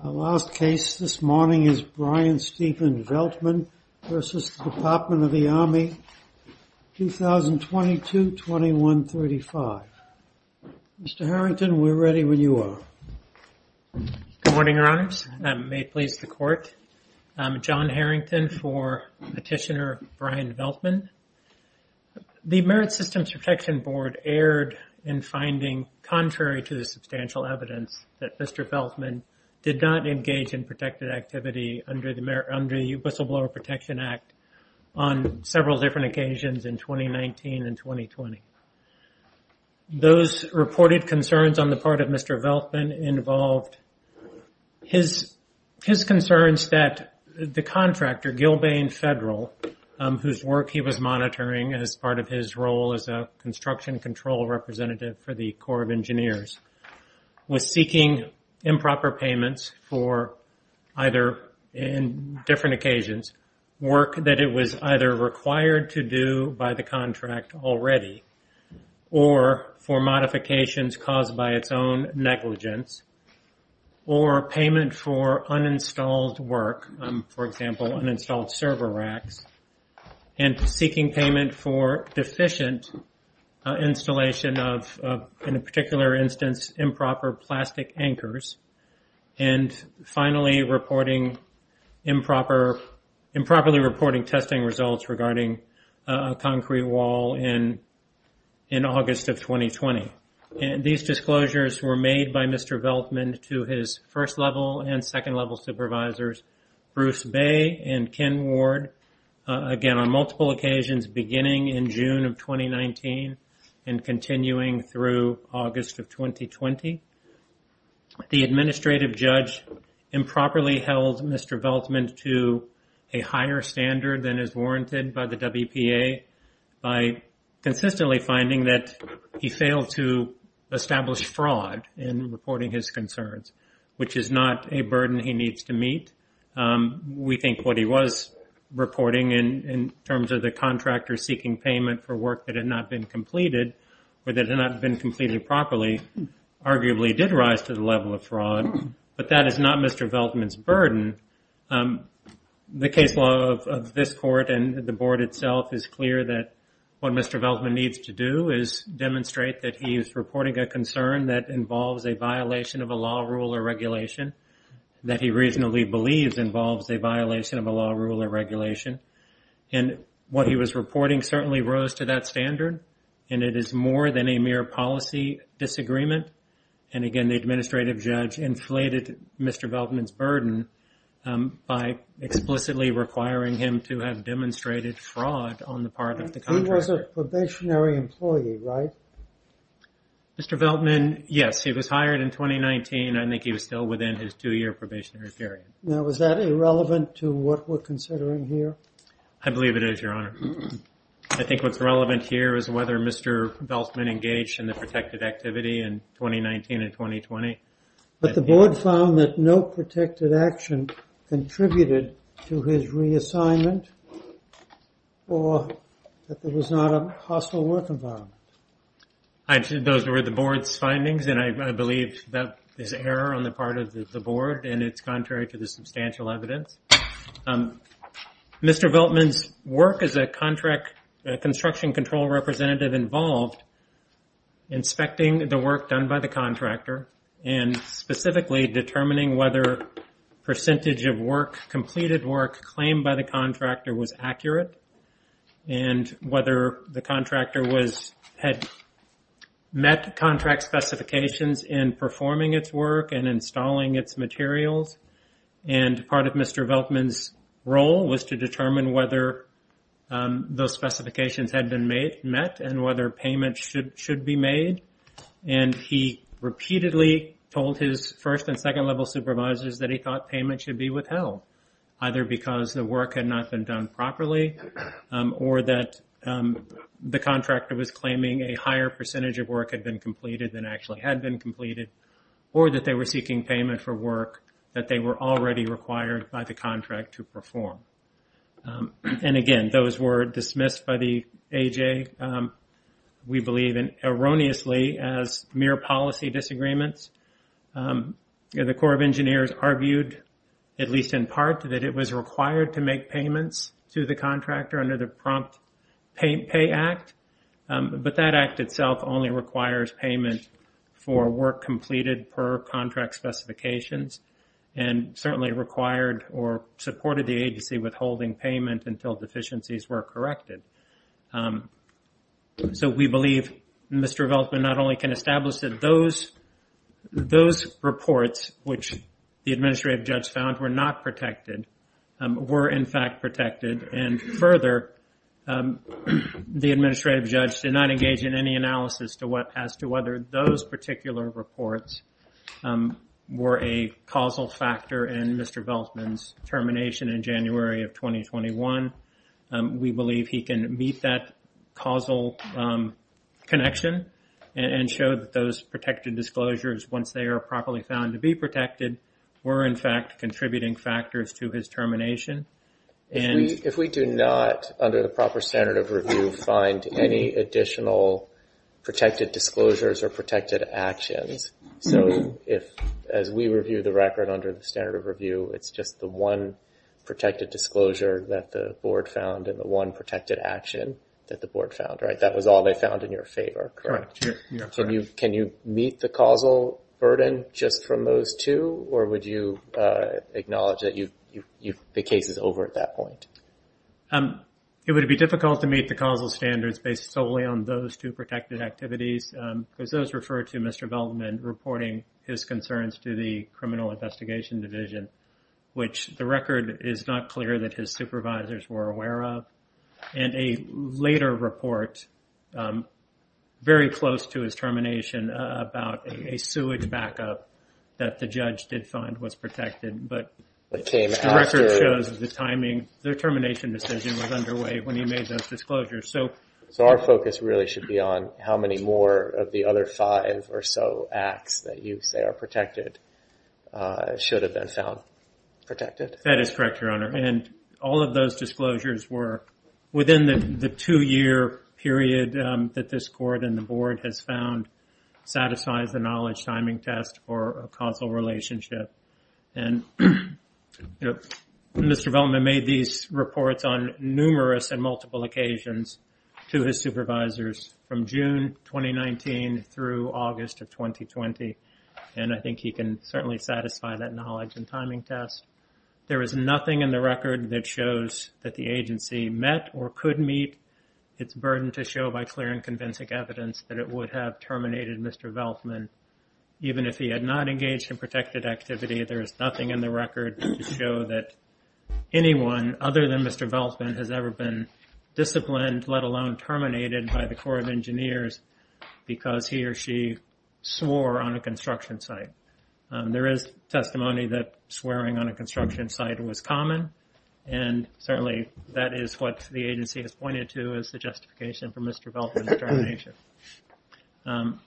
Our last case this morning is Brian Stephen Veltman v. Department of the Army, 2022-2135. Mr. Harrington, we're ready when you are. Good morning, Your Honors, and may it please the Court, I'm John Harrington for Petitioner Brian Veltman. The Merit Systems Protection Board erred in finding, contrary to the substantial evidence that Mr. Veltman did not engage in protected activity under the Whistleblower Protection Act on several different occasions in 2019 and 2020. Those reported concerns on the part of Mr. Veltman involved his concerns that the contractor, Gilbane Federal, whose work he was monitoring as part of his role as a construction control representative for the Corps of Engineers, was seeking improper payments for either, in different occasions, work that it was either required to do by the contract already, or for modifications caused by its own negligence, or payment for uninstalled work, for example, uninstalled server racks, and seeking payment for deficient installation of, in a particular instance, improper plastic anchors, and finally, improperly reporting testing results regarding a concrete wall in August of 2020. These disclosures were made by Mr. Veltman to his first-level and second-level supervisors, Bruce Bay and Ken Ward, again, on multiple occasions beginning in June of 2019 and continuing through August of 2020. The administrative judge improperly held Mr. Veltman to a higher standard than is warranted by the WPA by consistently finding that he failed to establish fraud in reporting his We think what he was reporting in terms of the contractor seeking payment for work that had not been completed, or that had not been completed properly, arguably did rise to the level of fraud, but that is not Mr. Veltman's burden. The case law of this Court and the Board itself is clear that what Mr. Veltman needs to do is demonstrate that he is reporting a concern that involves a violation of a law, rule, or regulation that he reasonably believes involves a violation of a law, rule, or regulation. And what he was reporting certainly rose to that standard, and it is more than a mere policy disagreement. And again, the administrative judge inflated Mr. Veltman's burden by explicitly requiring him to have demonstrated fraud on the part of the contractor. He was a probationary employee, right? Mr. Veltman, yes. He was hired in 2019, and I think he was still within his two-year probationary period. Now, is that irrelevant to what we're considering here? I believe it is, Your Honor. I think what's relevant here is whether Mr. Veltman engaged in the protected activity in 2019 and 2020. But the Board found that no protected action contributed to his reassignment, or that there was not a hostile work environment. Those were the Board's findings, and I believe that is error on the part of the Board, and it's contrary to the substantial evidence. Mr. Veltman's work as a construction control representative involved inspecting the work done by the contractor, and specifically determining whether percentage of work, completed work claimed by the contractor, was accurate, and whether the contractor had met contract specifications in performing its work and installing its materials. Part of Mr. Veltman's role was to determine whether those specifications had been met, and whether payment should be made. He repeatedly told his first- and second-level supervisors that he thought payment should be withheld, either because the work had not been done properly, or that the contractor was claiming a higher percentage of work had been completed than actually had been completed, or that they were seeking payment for work that they were already required by the contract to perform. And again, those were dismissed by the AJ, we believe, erroneously as mere policy disagreements. The Corps of Engineers argued, at least in part, that it was required to make payments to the contractor under the Prompt Pay Act, but that act itself only requires payment for work completed per contract specifications, and certainly required or supported the agency withholding payment until deficiencies were corrected. So, we believe Mr. Veltman not only can establish that those reports, which the Administrative Judge found were not protected, were in fact protected, and further, the Administrative Judge did not engage in any analysis as to whether those particular reports were a causal and meet that causal connection, and showed that those protected disclosures, once they are properly found to be protected, were in fact contributing factors to his termination. If we do not, under the proper standard of review, find any additional protected disclosures or protected actions, so if, as we review the record under the standard of review, it's just the one protected disclosure that the Board found and the one protected action that the Board found, right? That was all they found in your favor, correct? Correct. Yeah, correct. Can you meet the causal burden just from those two, or would you acknowledge that the case is over at that point? It would be difficult to meet the causal standards based solely on those two protected activities, because those refer to Mr. Veltman reporting his concerns to the Criminal Investigation Division, which the record is not clear that his supervisors were aware of, and a later report very close to his termination about a sewage backup that the judge did find was protected, but the record shows the timing, the termination decision was underway when he made those disclosures. So our focus really should be on how many more of the other five or so acts that you say are protected should have been found protected. That is correct, Your Honor, and all of those disclosures were within the two-year period that this Court and the Board has found satisfies the knowledge timing test for a causal relationship, and Mr. Veltman made these reports on numerous and multiple occasions to his supervisors from June 2019 through August of 2020, and I think he can certainly satisfy that knowledge and timing test. There is nothing in the record that shows that the agency met or could meet its burden to show by clear and convincing evidence that it would have terminated Mr. Veltman, even if he had not engaged in protected activity. There is nothing in the record to show that anyone other than Mr. Veltman has ever been to the Corps of Engineers because he or she swore on a construction site. There is testimony that swearing on a construction site was common, and certainly that is what the agency has pointed to as the justification for Mr. Veltman's termination. And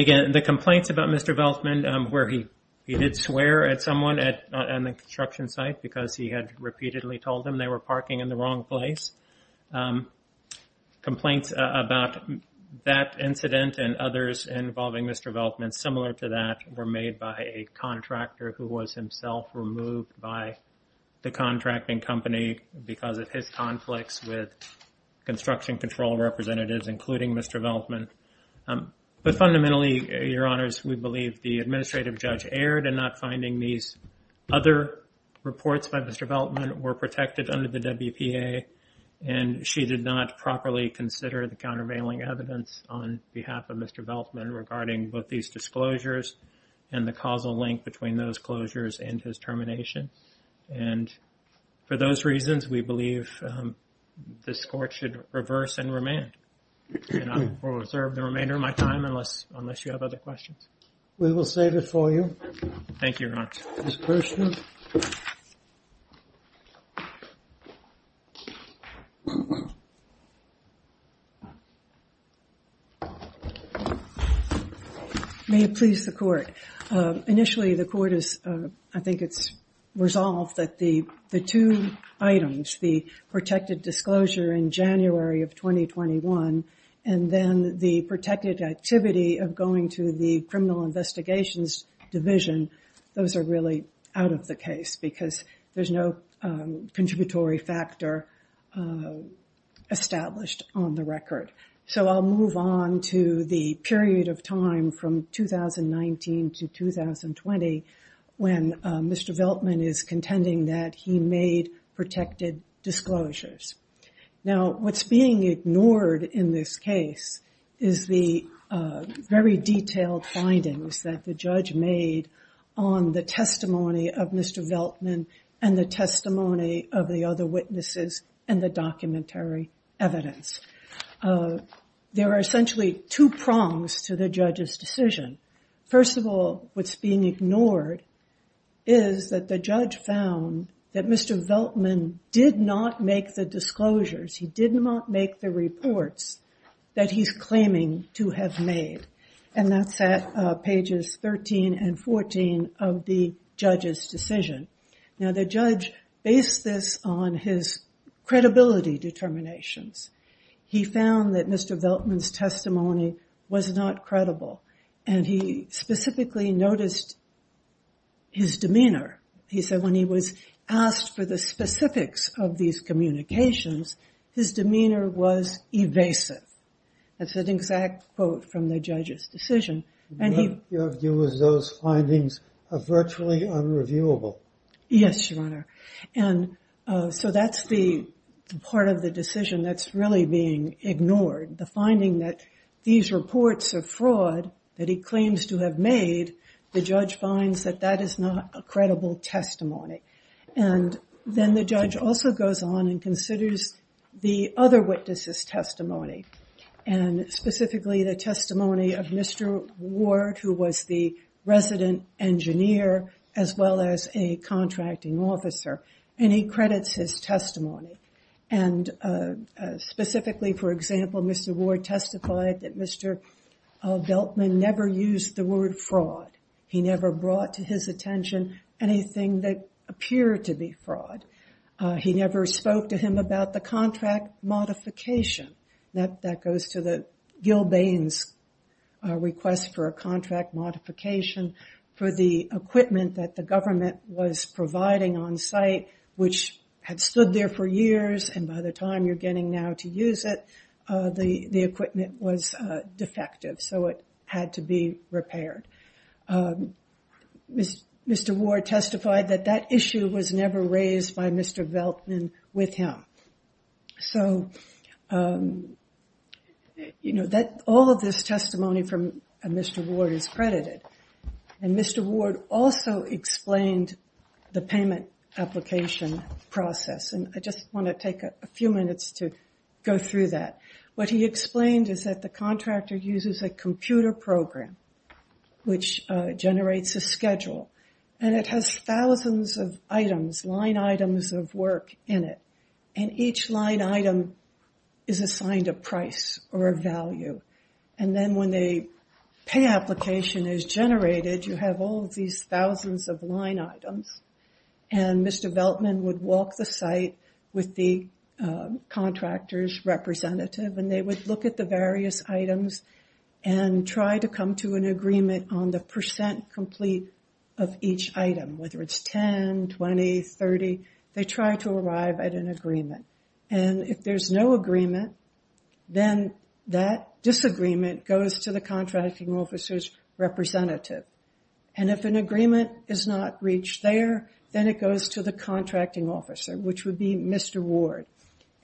again, the complaints about Mr. Veltman, where he did swear at someone on the construction site because he had repeatedly told them they were parking in the wrong place. Complaints about that incident and others involving Mr. Veltman similar to that were made by a contractor who was himself removed by the contracting company because of his conflicts with construction control representatives, including Mr. Veltman. But fundamentally, Your Honors, we believe the administrative judge erred in not finding these other reports by Mr. Veltman were protected under the WPA, and she did not properly consider the countervailing evidence on behalf of Mr. Veltman regarding both these disclosures and the causal link between those closures and his termination. And for those reasons, we believe this Court should reverse and remand. And I will reserve the remainder of my time unless you have other questions. We will save it for you. Thank you, Your Honor. Ms. Kirshner? May it please the Court. Initially, the Court has, I think it's resolved that the two items, the protected disclosure in January of 2021 and then the protected activity of going to the Criminal Investigations Division, those are really out of the case because there's no contributory factor established on the record. So I'll move on to the period of time from 2019 to 2020 when Mr. Veltman is contending that he made protected disclosures. Now, what's being ignored in this case is the very detailed findings that the judge made on the testimony of Mr. Veltman and the testimony of the other witnesses and the documentary evidence. There are essentially two prongs to the judge's decision. First of all, what's being ignored is that the judge found that Mr. Veltman did not make the disclosures. He did not make the reports that he's claiming to have made. And that's at pages 13 and 14 of the judge's decision. Now, the judge based this on his credibility determinations. He found that Mr. Veltman's testimony was not credible. And he specifically noticed his demeanor. He said when he was asked for the specifics of these communications, his demeanor was evasive. That's an exact quote from the judge's decision. And he... What you have to do with those findings are virtually unreviewable. Yes, Your Honor. And so that's the part of the decision that's really being ignored. The finding that these reports are fraud that he claims to have made, the judge finds that that is not a credible testimony. And then the judge also goes on and considers the other witnesses' testimony. And specifically the testimony of Mr. Ward, who was the resident engineer as well as a contracting officer. And he credits his testimony. And specifically, for example, Mr. Ward testified that Mr. Veltman never used the word fraud. He never brought to his attention anything that appeared to be fraud. He never spoke to him about the contract modification. That goes to Gil Baines' request for a contract modification for the equipment that the government was providing on-site, which had stood there for years, and by the time you're getting now to use it, the equipment was defective. So it had to be repaired. Mr. Ward testified that that issue was never raised by Mr. Veltman with him. So, you know, all of this testimony from Mr. Ward is credited. And Mr. Ward also explained the payment application process. And I just want to take a few minutes to go through that. What he explained is that the contractor uses a computer program, which generates a schedule. And it has thousands of items, line items of work in it. And each line item is assigned a price or a value. And then when the pay application is generated, you have all of these thousands of line items. And Mr. Veltman would walk the site with the contractor's representative, and they would look at the various items and try to come to an agreement on the percent complete of each item, whether it's 10, 20, 30. They try to arrive at an agreement. And if there's no agreement, then that disagreement goes to the contracting officer's representative. And if an agreement is not reached there, then it goes to the contracting officer, which would be Mr. Ward.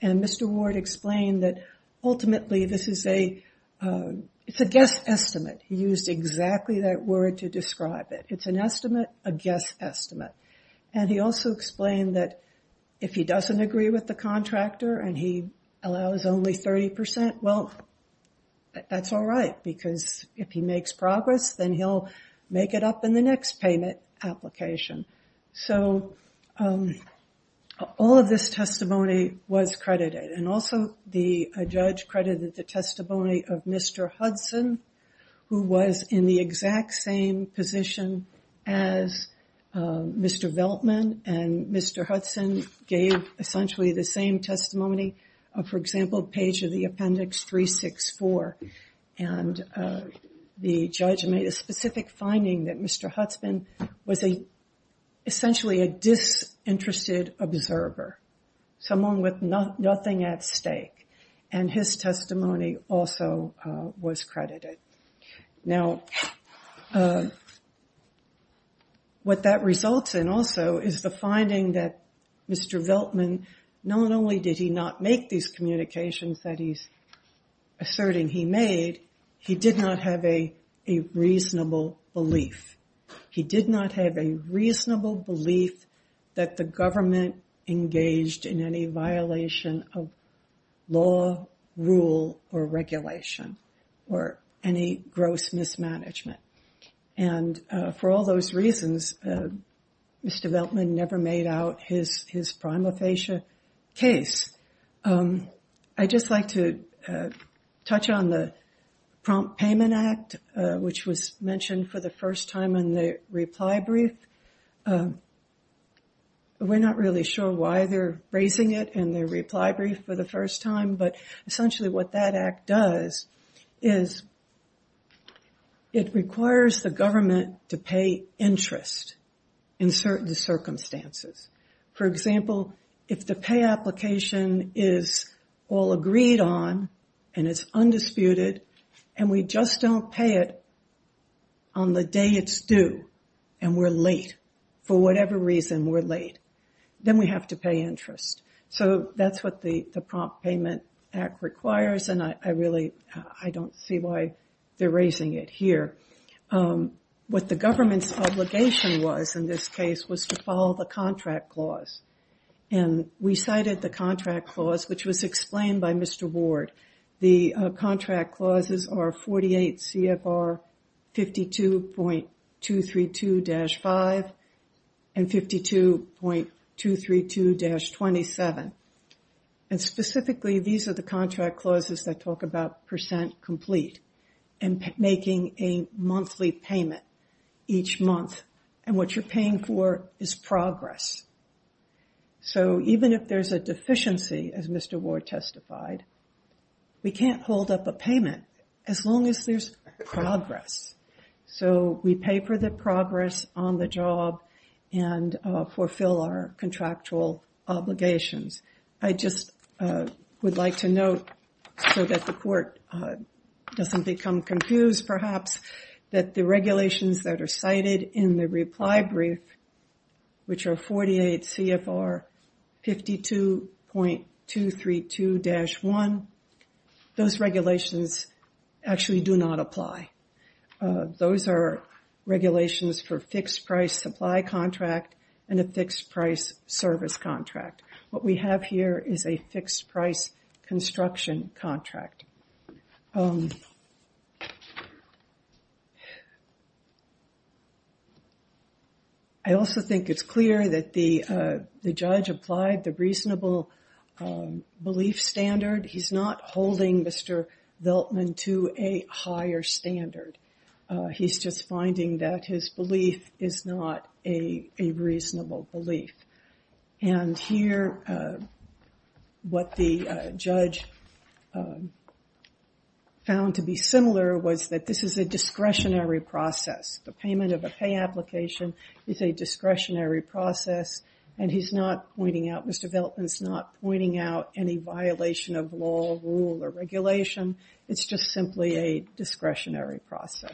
And Mr. Ward explained that, ultimately, this is a guess estimate. He used exactly that word to describe it. It's an estimate, a guess estimate. And he also explained that if he doesn't agree with the contractor and he allows only 30%, well, that's all right, because if he makes progress, then he'll make it up in the next payment application. So all of this testimony was credited. And also the judge credited the testimony of Mr. Hudson, who was in the exact same position as Mr. Veltman, and Mr. Hudson gave essentially the same testimony, for example, page of the appendix 364. And the judge made a specific finding that Mr. Hudson was essentially a disinterested observer, someone with nothing at stake. And his testimony also was credited. Now, what that results in also is the finding that Mr. Veltman, not only did he not make these communications that he's asserting he made, he did not have a reasonable belief. He did not have a reasonable belief that the government engaged in any violation of law, rule, or regulation, or any gross mismanagement. And for all those reasons, Mr. Veltman never made out his prima facie case. I'd just like to touch on the Prompt Payment Act, which was mentioned for the first time in the reply brief. We're not really sure why they're raising it in their reply brief for the first time, but essentially what that act does is it requires the government to pay interest in certain circumstances. For example, if the pay application is all agreed on and it's undisputed, and we just don't pay it on the day it's due, and we're late, for whatever reason we're late, then we have to pay interest. So that's what the Prompt Payment Act requires, and I really don't see why they're raising it here. What the government's obligation was in this case was to follow the contract clause. And we cited the contract clause, which was explained by Mr. Ward. The contract clauses are 48 CFR 52.232-5 and 52.232-27. And specifically, these are the contract clauses that talk about percent complete and making a monthly payment each month. And what you're paying for is progress. So even if there's a deficiency, as Mr. Ward testified, we can't hold up a payment as long as there's progress. So we pay for the progress on the job and fulfill our contractual obligations. I just would like to note, so that the court doesn't become confused perhaps, that the 48 CFR 52.232-1, those regulations actually do not apply. Those are regulations for fixed-price supply contract and a fixed-price service contract. What we have here is a fixed-price construction contract. I also think it's clear that the judge applied the reasonable belief standard. He's not holding Mr. Veltman to a higher standard. He's just finding that his belief is not a reasonable belief. And here, what the judge found to be similar was that this is a discretionary process. The payment of a pay application is a discretionary process, and he's not pointing out, Mr. Veltman's not pointing out any violation of law, rule, or regulation. It's just simply a discretionary process.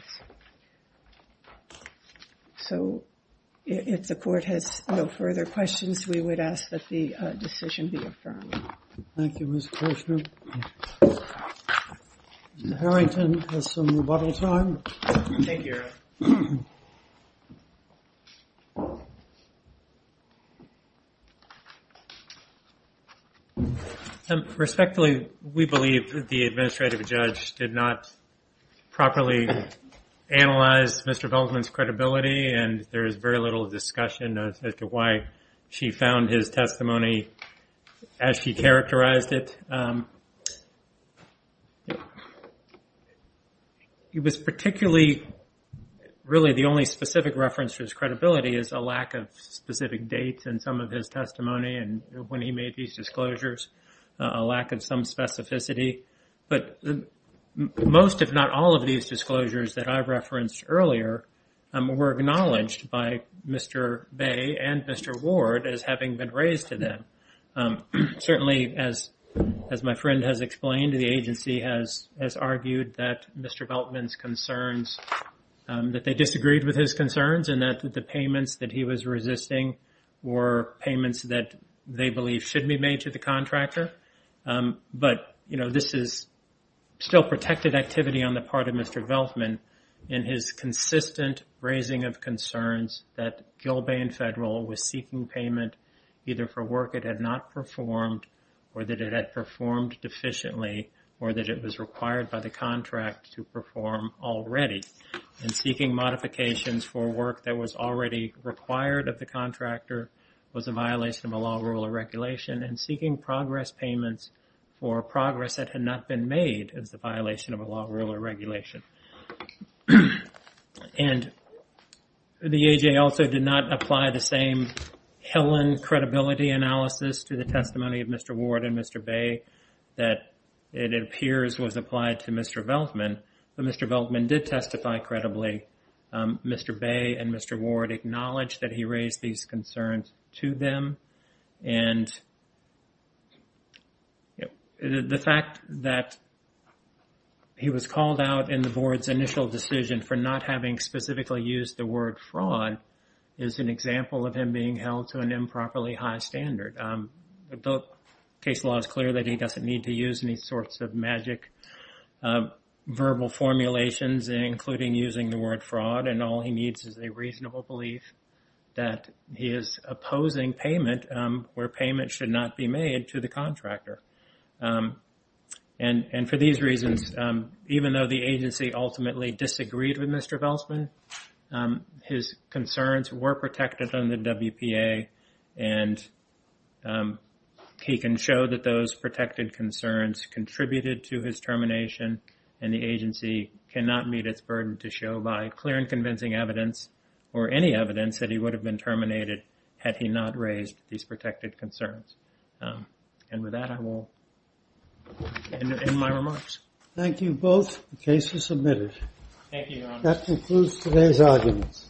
So if the court has no further questions, we would ask that the decision be affirmed. Thank you, Ms. Koshner. Mr. Harrington has some rebuttal time. Thank you, Your Honor. Respectfully, we believe that the administrative judge did not properly analyze Mr. Veltman's credibility, and there is very little discussion as to why she found his testimony as she characterized it. It was particularly, really, the only specific reference to his credibility is a lack of specific dates in some of his testimony and when he made these disclosures, a lack of some specificity. But most, if not all, of these disclosures that I referenced earlier were acknowledged by Mr. Bay and Mr. Ward as having been raised to them. Certainly, as my friend has explained, the agency has argued that Mr. Veltman's concerns, that they disagreed with his concerns and that the payments that he was resisting were payments that they believe should be made to the contractor. But, you know, this is still protected activity on the part of Mr. Veltman in his consistent raising of concerns that Gilbane Federal was seeking payment either for work it had not performed or that it had performed deficiently or that it was required by the contract to perform already. And seeking modifications for work that was already required of the contractor was a violation of a law, rule, or regulation. And seeking progress payments for progress that had not been made is a violation of a law, rule, or regulation. And the AJA also did not apply the same Helen credibility analysis to the testimony of Mr. Ward and Mr. Bay that it appears was applied to Mr. Veltman. But Mr. Veltman did testify credibly. Mr. Bay and Mr. Ward acknowledged that he raised these concerns to them. And the fact that he was called out in the board's initial decision for not having specifically used the word fraud is an example of him being held to an improperly high standard. The case law is clear that he doesn't need to use any sorts of magic verbal formulations including using the word fraud. And all he needs is a reasonable belief that he is opposing payment where payment should not be made to the contractor. And for these reasons even though the agency ultimately disagreed with Mr. Veltman his concerns were protected under WPA. And he can show that those protected concerns contributed to his termination and the agency cannot meet its burden to show by clear and convincing evidence or any evidence that he would have been terminated had he not raised these protected concerns. And with that I will end my remarks. Thank you both. The case is submitted. That concludes today's arguments.